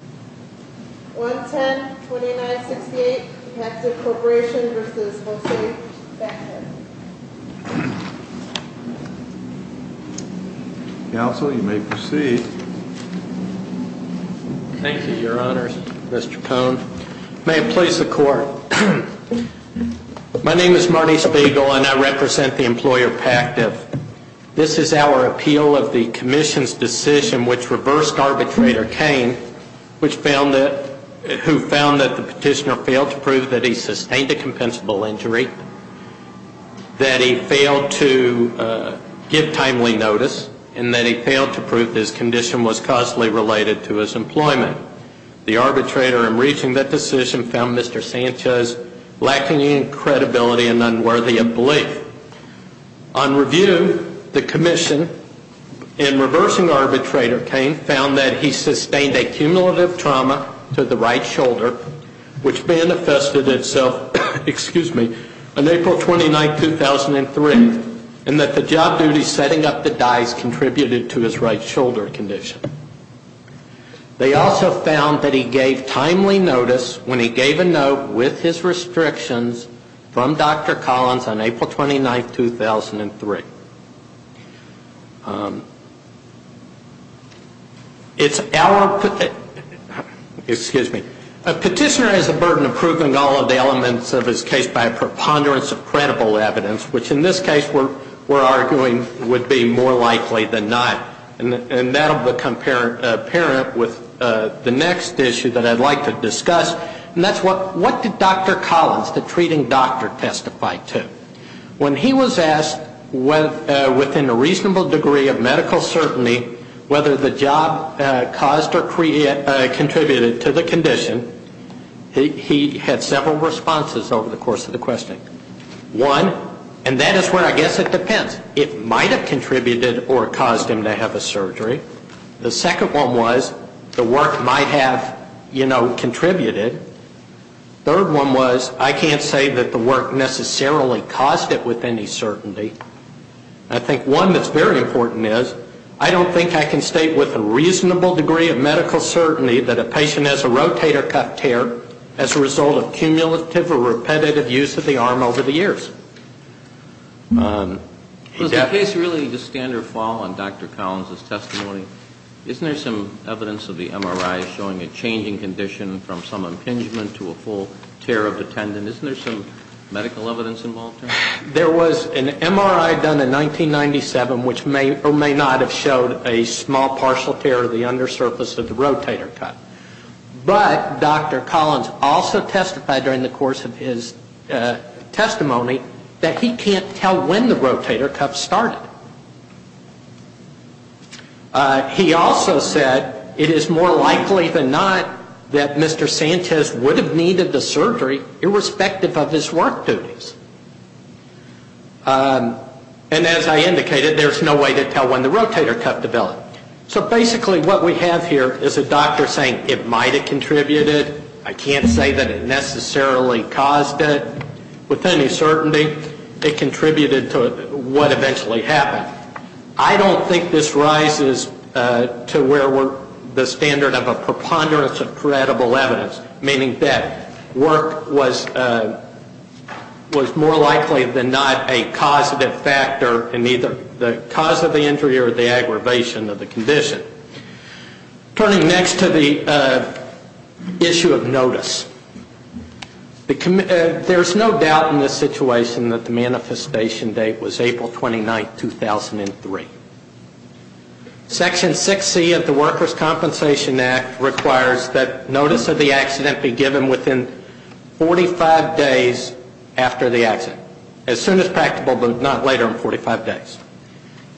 110-2968 Pactiv Corporation v. Mosey v. Pactiv Counsel, you may proceed. Thank you, Your Honors. Mr. Cohn. May it please the Court. My name is Marty Spiegel and I represent the employer Pactiv. This is our appeal of the Commission's decision which reversed arbitrator Cain, who found that the petitioner failed to prove that he sustained a compensable injury, that he failed to give timely notice, and that he failed to prove his condition was causally related to his employment. The arbitrator in reaching that decision found Mr. Sanchez lacking in credibility and unworthy of belief. On review, the Commission, in reversing arbitrator Cain, found that he sustained a cumulative trauma to the right shoulder, which manifested itself on April 29, 2003, and that the job duties setting up the dice contributed to his right shoulder condition. They also found that he gave timely notice when he gave a note with his restrictions from Dr. Collins on April 29, 2003. A petitioner has the burden of proving all of the elements of his case by a preponderance of credible evidence, which in this case we're arguing would be more likely than not. And that will become apparent with the next issue that I'd like to discuss, and that's what did Dr. Collins, the treating doctor, testify to? When he was asked within a reasonable degree of medical certainty whether the job caused or contributed to the condition, he had several responses over the course of the questioning. One, and that is where I guess it depends, it might have contributed or caused him to have a surgery. The second one was the work might have, you know, contributed. Third one was I can't say that the work necessarily caused it with any certainty. I think one that's very important is I don't think I can state with a reasonable degree of medical certainty that a patient has a rotator cuff tear as a result of cumulative or repetitive use of the arm over the years. Was the case really the standard fall on Dr. Collins' testimony? Isn't there some evidence of the MRI showing a changing condition from some impingement to a full tear of the tendon? Isn't there some medical evidence involved there? There was an MRI done in 1997 which may or may not have showed a small partial tear of the undersurface of the rotator cuff. But Dr. Collins also testified during the course of his testimony that he can't tell when the rotator cuff started. He also said it is more likely than not that Mr. Sanchez would have needed the surgery irrespective of his work duties. And as I indicated, there's no way to tell when the rotator cuff developed. So basically what we have here is a doctor saying it might have contributed. I can't say that it necessarily caused it with any certainty. It contributed to what eventually happened. I don't think this rises to where we're the standard of a preponderance of credible evidence, meaning that work was more likely than not a causative factor in either the cause of the injury or the aggravation of the condition. Turning next to the issue of notice, there's no doubt in this situation that the manifestation date was April 29, 2003. Section 6C of the Workers' Compensation Act requires that notice of the accident be given within 45 days after the accident, as soon as practical but not later than 45 days.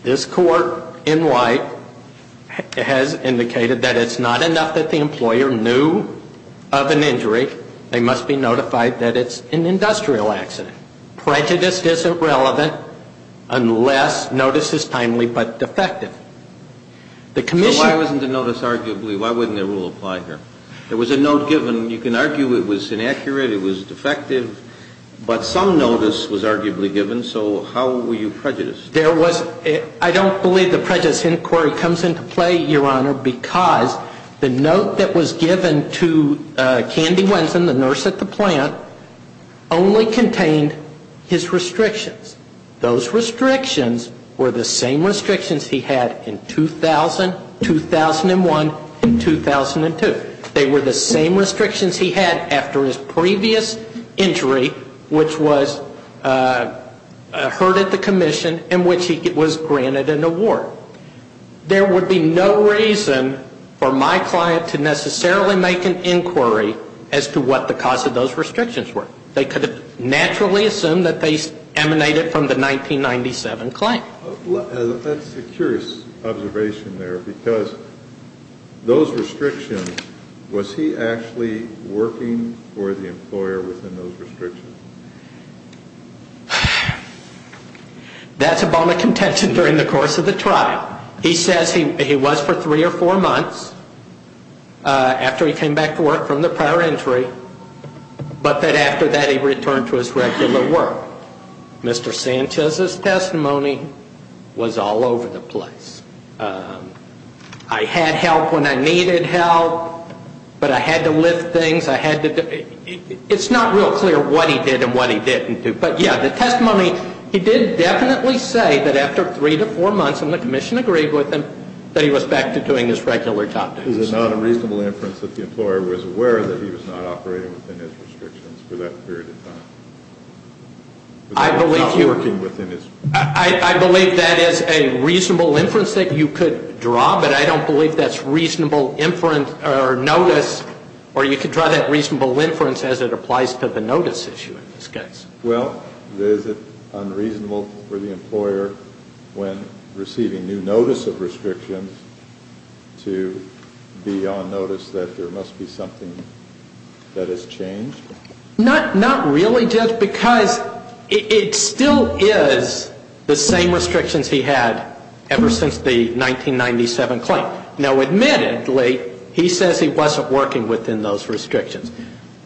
This Court, in white, has indicated that it's not enough that the employer knew of an injury. They must be notified that it's an industrial accident. Prejudice isn't relevant unless notice is timely but defective. So why wasn't the notice arguably, why wouldn't the rule apply here? There was a note given. You can argue it was inaccurate, it was defective, but some notice was arguably given. So how were you prejudiced? There was, I don't believe the prejudice inquiry comes into play, Your Honor, because the note that was given to Candy Wensen, the nurse at the plant, only contained his restrictions. Those restrictions were the same restrictions he had in 2000, 2001, and 2002. They were the same restrictions he had after his previous injury, which was hurt at the commission, in which he was granted an award. There would be no reason for my client to necessarily make an inquiry as to what the cause of those restrictions were. They could have naturally assumed that they emanated from the 1997 claim. That's a curious observation there because those restrictions, was he actually working for the employer within those restrictions? That's a bone of contention during the course of the trial. He says he was for three or four months after he came back to work from the prior injury, but that after that he returned to his regular work. Mr. Sanchez's testimony was all over the place. I had help when I needed help, but I had to lift things. It's not real clear what he did and what he didn't do. But, yeah, the testimony, he did definitely say that after three to four months, and the commission agreed with him, that he was back to doing his regular job. Is it not a reasonable inference that the employer was aware that he was not operating within his restrictions for that period of time? I believe that is a reasonable inference that you could draw, but I don't believe that's reasonable inference or notice, or you could draw that reasonable inference as it applies to the notice issue in this case. Well, is it unreasonable for the employer, when receiving new notice of restrictions, to be on notice that there must be something that has changed? Not really, Judge, because it still is the same restrictions he had ever since the 1997 claim. Now, admittedly, he says he wasn't working within those restrictions.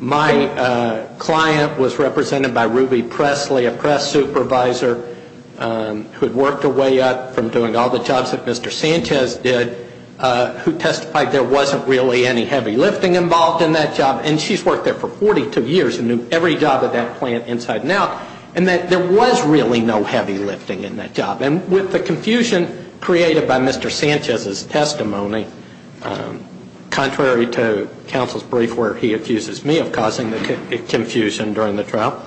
My client was represented by Ruby Presley, a press supervisor, who had worked her way up from doing all the jobs that Mr. Sanchez did, who testified there wasn't really any heavy lifting involved in that job, and she's worked there for 42 years and knew every job at that plant inside and out, and that there was really no heavy lifting in that job. And with the confusion created by Mr. Sanchez's testimony, contrary to counsel's brief where he accuses me of causing the confusion during the trial,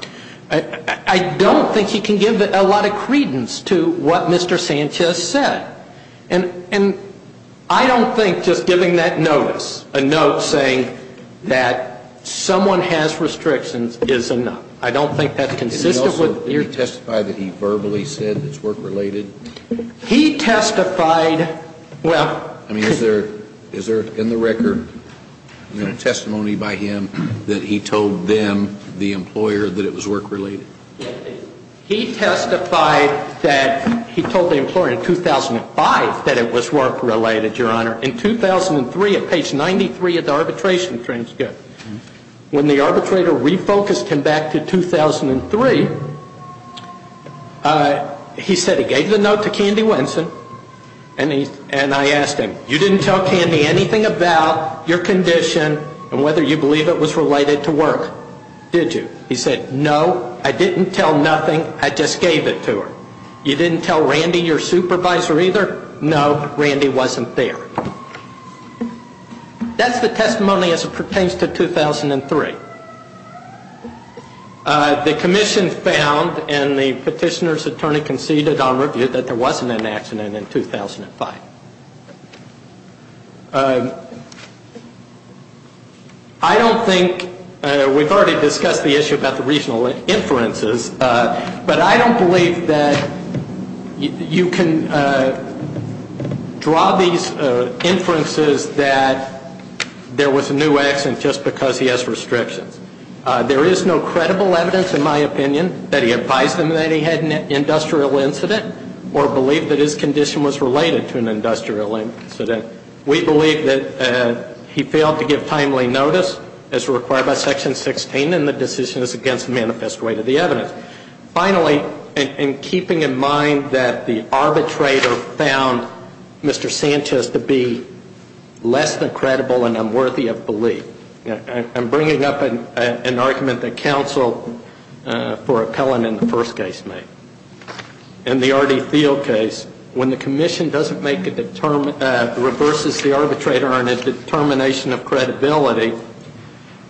I don't think he can give a lot of credence to what Mr. Sanchez said. And I don't think just giving that notice, a note saying that someone has restrictions, is enough. I don't think that's consistent with your testimony. Did he also testify that he verbally said it's work-related? He testified, well. I mean, is there in the record testimony by him that he told them, the employer, that it was work-related? He testified that he told the employer in 2005 that it was work-related, Your Honor. In 2003, at page 93 of the arbitration transcript, when the arbitrator refocused him back to 2003, he said he gave the note to Candy Winson, and I asked him, you didn't tell Candy anything about your condition and whether you believe it was related to work, did you? He said, no, I didn't tell nothing, I just gave it to her. You didn't tell Randy, your supervisor, either? No, Randy wasn't there. That's the testimony as it pertains to 2003. The commission found, and the petitioner's attorney conceded on review, that there wasn't an accident in 2005. I don't think, we've already discussed the issue about the regional inferences, but I don't believe that you can draw these inferences that there was a new accident just because he has restrictions. There is no credible evidence, in my opinion, that he advised them that he had an industrial incident or believed that his condition was related to an industrial incident. We believe that he failed to give timely notice as required by Section 16, and the decision is against the manifest weight of the evidence. Finally, in keeping in mind that the arbitrator found Mr. Sanchez to be less than credible and unworthy of belief, I'm bringing up an argument that counsel for appellant in the first case made. In the Artie Thiel case, when the commission doesn't make a, reverses the arbitrator on a determination of credibility,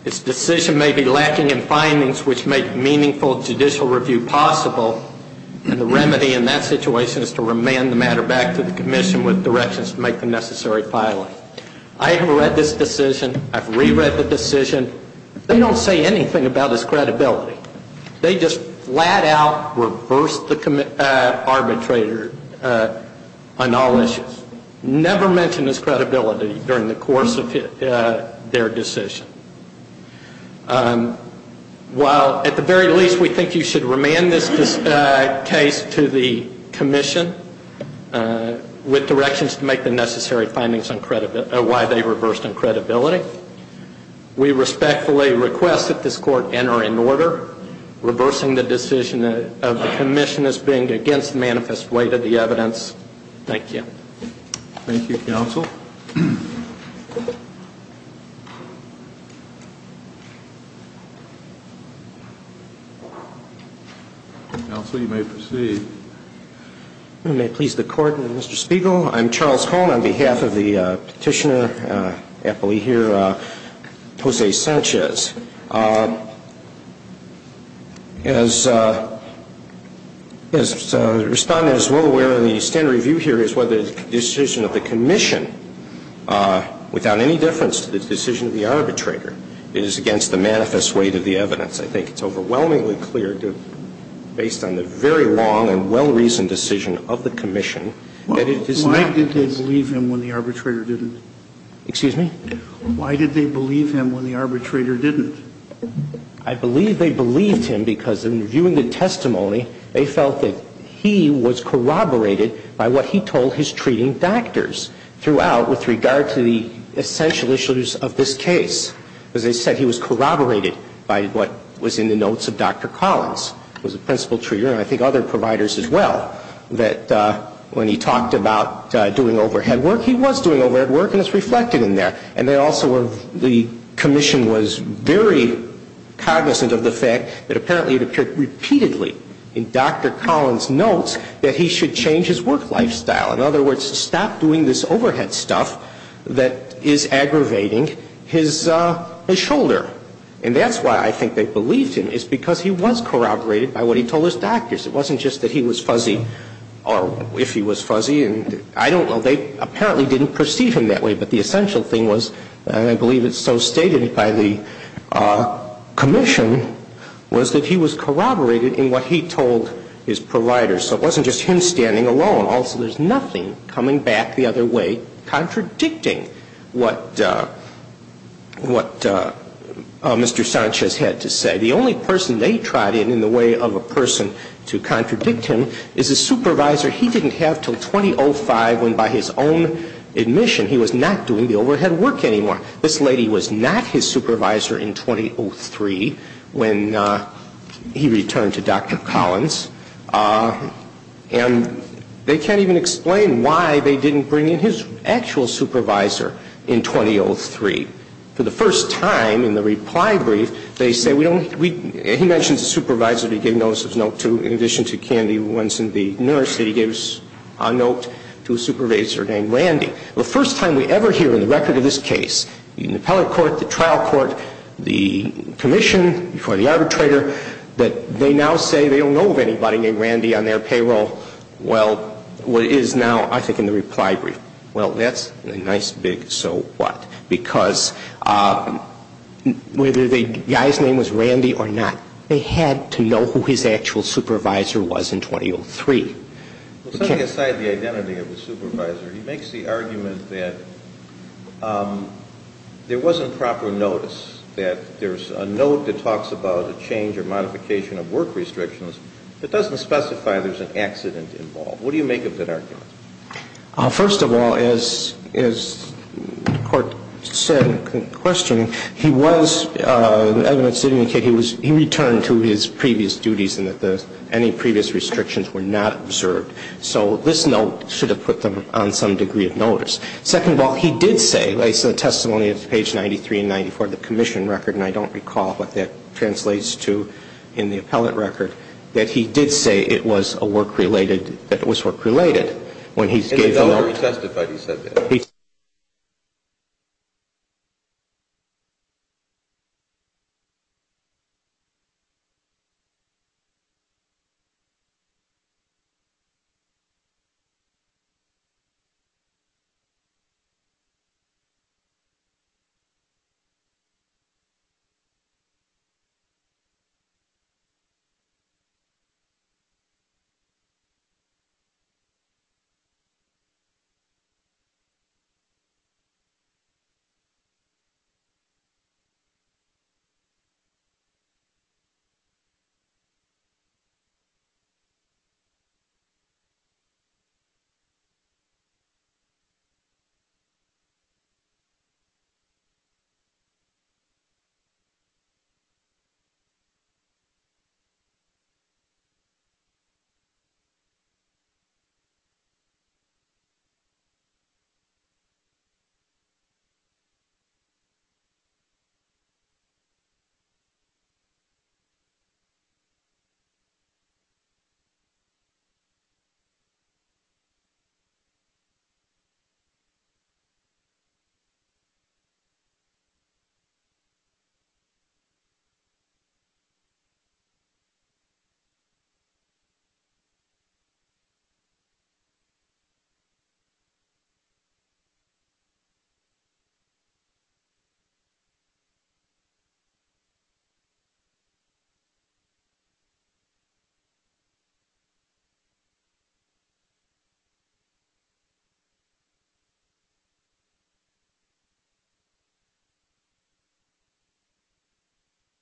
its decision may be lacking in findings which make meaningful judicial review possible, and the remedy in that situation is to remand the matter back to the commission with directions to make the necessary filing. I have read this decision. I've reread the decision. They don't say anything about his credibility. They just flat out reverse the arbitrator on all issues, never mention his credibility during the course of their decision. While at the very least we think you should remand this case to the commission with directions to make the necessary findings on why they reversed on credibility, we respectfully request that this court enter in order, reversing the decision of the commission as being against the manifest weight of the evidence. Thank you. Thank you, counsel. Counsel, you may proceed. May it please the court and Mr. Spiegel. I'm Charles Cohn on behalf of the petitioner appellee here, Jose Sanchez. As the Respondent is well aware, the standard review here is whether the decision of the commission, without any difference to the decision of the arbitrator, is against the manifest weight of the evidence. I think it's overwhelmingly clear based on the very long and well-reasoned decision of the commission that it is not. Why did they believe him when the arbitrator didn't? Excuse me? Why did they believe him when the arbitrator didn't? I believe they believed him because in reviewing the testimony, they felt that he was corroborated by what he told his treating doctors throughout with regard to the essential issues of this case. As I said, he was corroborated by what was in the notes of Dr. Collins, who was a principal treater and I think other providers as well, that when he talked about doing overhead work, he was doing overhead work and it's reflected in there. And also the commission was very cognizant of the fact that apparently it appeared repeatedly in Dr. Collins' notes that he should change his work lifestyle. In other words, stop doing this overhead stuff that is aggravating his shoulder. And that's why I think they believed him is because he was corroborated by what he told his doctors. It wasn't just that he was fuzzy or if he was fuzzy. I don't know. They apparently didn't perceive him that way. But the essential thing was, and I believe it's so stated by the commission, was that he was corroborated in what he told his providers. So it wasn't just him standing alone. Also, there's nothing coming back the other way contradicting what Mr. Sanchez had to say. The only person they tried in, in the way of a person to contradict him, is a supervisor he didn't have until 2005 when, by his own admission, he was not doing the overhead work anymore. This lady was not his supervisor in 2003 when he returned to Dr. Collins. And they can't even explain why they didn't bring in his actual supervisor in 2003. For the first time in the reply brief, they say we don't, we, he mentions a supervisor he gave notice of note to in addition to Candy once in the New York City. He gave a note to a supervisor named Randy. The first time we ever hear in the record of this case, in the appellate court, the trial court, the commission, before the arbitrator, that they now say they don't know of anybody named Randy on their payroll, well, what is now, I think, in the reply brief. Well, that's a nice big so what? Because whether the guy's name was Randy or not, they had to know who his actual supervisor was in 2003. Well, setting aside the identity of the supervisor, he makes the argument that there wasn't proper notice, that there's a note that talks about a change or modification of work restrictions that doesn't specify there's an accident involved. What do you make of that argument? First of all, as the court said in questioning, he was evidence to indicate he returned to his previous duties and that any previous restrictions were not observed. So this note should have put them on some degree of notice. Second of all, he did say, based on the testimony of page 93 and 94 of the commission record, and I don't recall what that translates to in the appellate record, that he did say it was a work-related, that it was work-related when he gave the note. It's already testified he said that.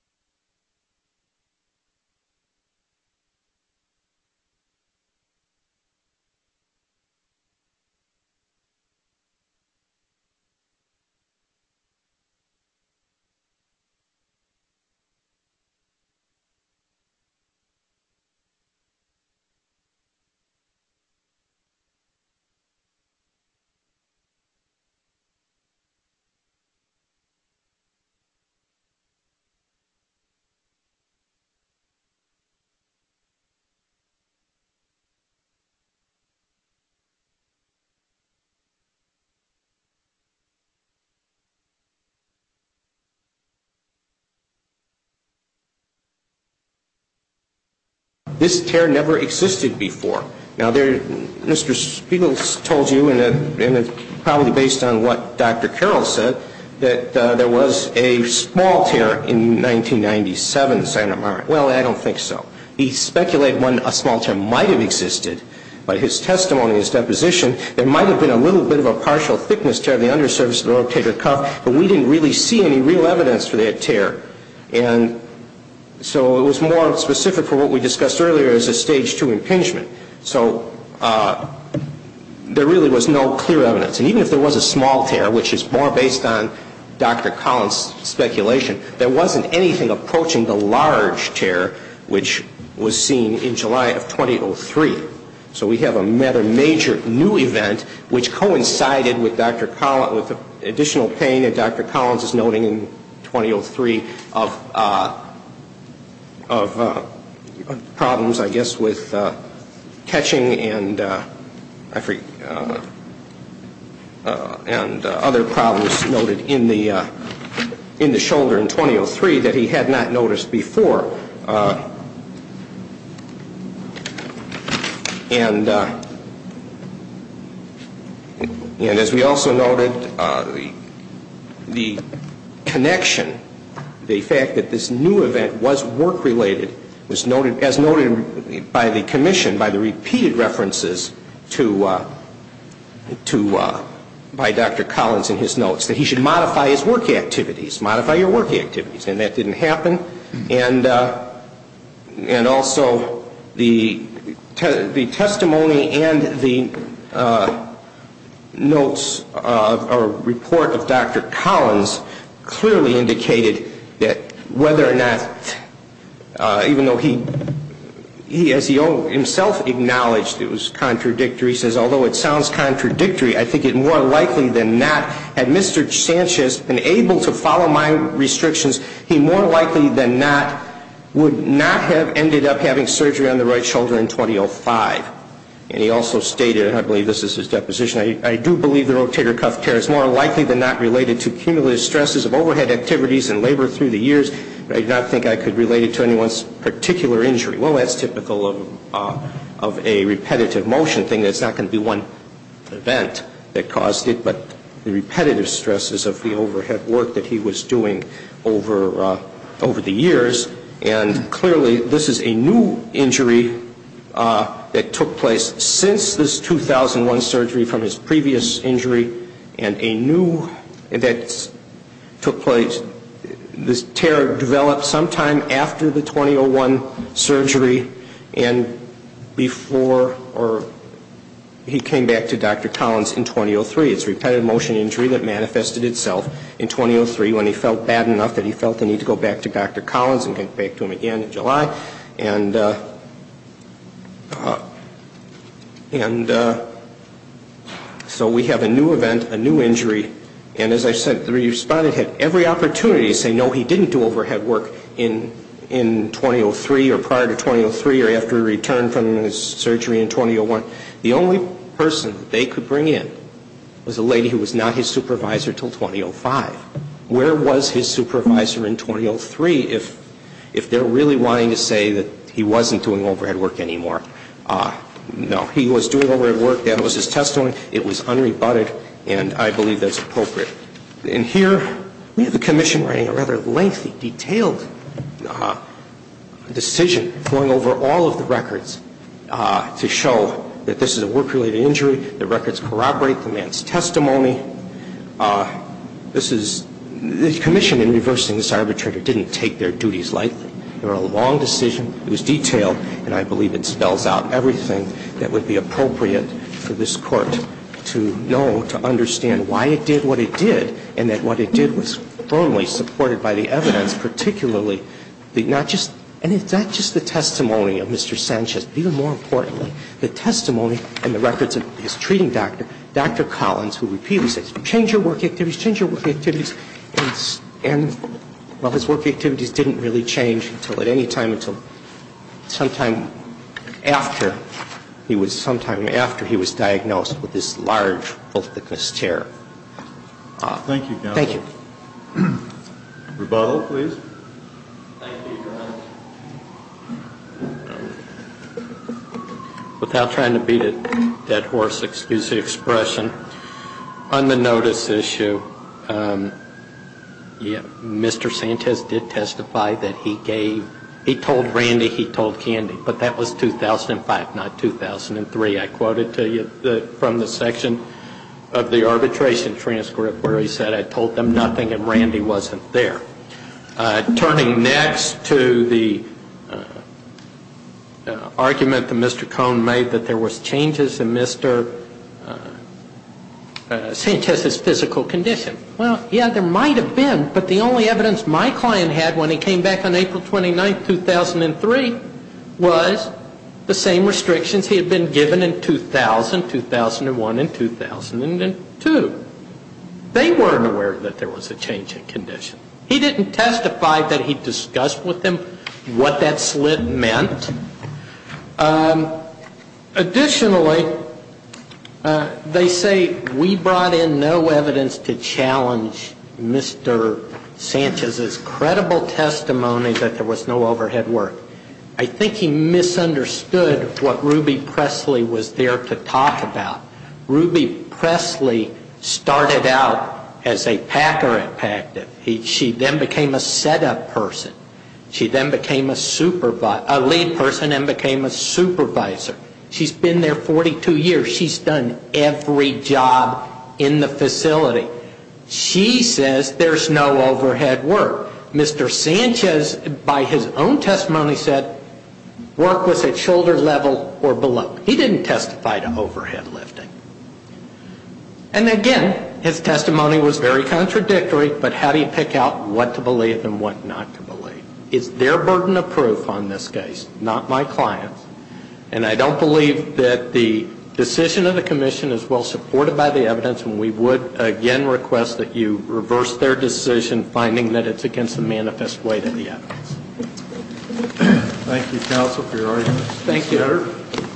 He testified. Thank you. Thank you. Thank you. Thank you. Thank you. This tear never existed before. Now, there, Mr. Spiegel told you, and that's probably based on what Dr. Carroll said, that there was a small tear in 1997 in Santa Mara. Well, I don't think so. He speculated when a small tear might have existed. But his testimony, his deposition, there might have been a little bit of a partial thickness tear of the undersurface of the rotator cuff, but we didn't really see any real evidence for that tear. And so it was more specific for what we discussed earlier as a Stage II impingement. So there really was no clear evidence. And even if there was a small tear, which is more based on Dr. Collins' speculation, there wasn't anything approaching the large tear which was seen in July of 2003. So we have a major new event which coincided with additional pain that Dr. Collins is noting in 2003 of problems, I guess, with catching and other problems noted in the shoulder in 2003 that he had not noticed before. And as we also noted, the connection, the fact that this new event was work-related, as noted by the Commission, by the repeated references by Dr. Collins in his notes, that he should modify his work activities, modify your work activities. And that didn't happen. And also the testimony and the notes or report of Dr. Collins clearly indicated that whether or not, even though he, as he himself acknowledged, it was contradictory. He says, although it sounds contradictory, I think it more likely than not, had Mr. Sanchez been able to follow my restrictions, he more likely than not would not have ended up having surgery on the right shoulder in 2005. And he also stated, and I believe this is his deposition, I do believe the rotator cuff tear is more likely than not related to cumulative stresses of overhead activities and labor through the years, but I do not think I could relate it to anyone's particular injury. Well, that's typical of a repetitive motion thing. It's not going to be one event that caused it, but the repetitive stresses of the overhead work that he was doing over the years. And clearly this is a new injury that took place since this 2001 surgery from his previous injury, and a new, that took place, this tear developed sometime after the 2001 surgery and before, or he came back to Dr. Collins in 2003. It's repetitive motion injury that manifested itself in 2003 when he felt bad enough that he felt the need to go back to Dr. Collins and get back to him again in July. And so we have a new event, a new injury, and as I said, the respondent had every opportunity to say no, he didn't do overhead work in 2003 or prior to 2003 or after he returned from his surgery in 2001. The only person they could bring in was a lady who was not his supervisor until 2005. Where was his supervisor in 2003 if they're really wanting to say that he wasn't doing overhead work anymore? No, he was doing overhead work. That was his testimony. It was unrebutted, and I believe that's appropriate. In here, we have a commission writing a rather lengthy, detailed decision going over all of the records to show that this is a work-related injury, the records corroborate the man's testimony. This is, the commission in reversing this arbitrator didn't take their duties lightly. They were a long decision. It was detailed, and I believe it spells out everything that would be appropriate for this court to know, to understand why it did what it did, and that what it did was firmly supported by the evidence, particularly not just, and it's not just the testimony of Mr. Sanchez. Even more importantly, the testimony and the records of his treating doctor, Dr. Collins, who repeatedly said, change your work activities, change your work activities, and, well, his work activities didn't really change until at any time until sometime after he was, he was diagnosed with this large, full-thickness tear. Thank you, counsel. Thank you. Rebuttal, please. Thank you, Your Honor. Without trying to beat a dead horse, excuse the expression, on the notice issue, yeah, Mr. Sanchez did testify that he gave, he told Randy, he told Candy, but that was 2005, not 2003. I quoted to you from the section of the arbitration transcript where he said, I told them nothing and Randy wasn't there. Turning next to the argument that Mr. Cohn made that there was changes in Mr. Sanchez's physical condition. Well, yeah, there might have been, but the only evidence my client had when he came back on April 29, 2003, was the same restrictions he had been given in 2000, 2001, and 2002. They weren't aware that there was a change in condition. He didn't testify that he discussed with them what that slit meant. Additionally, they say we brought in no evidence to challenge Mr. Sanchez's credible testimony that there was no overhead work. I think he misunderstood what Ruby Presley was there to talk about. Ruby Presley started out as a packer at PACT. She then became a setup person. She then became a lead person and became a supervisor. She's been there 42 years. She's done every job in the facility. She says there's no overhead work. Mr. Sanchez, by his own testimony, said work was at shoulder level or below. He didn't testify to overhead lifting. And again, his testimony was very contradictory, but how do you pick out what to believe and what not to believe? Is there burden of proof on this case? Not my client's. And I don't believe that the decision of the commission is well supported by the evidence, and we would again request that you reverse their decision, finding that it's against the manifest weight of the evidence. Thank you, counsel, for your arguments. Thank you.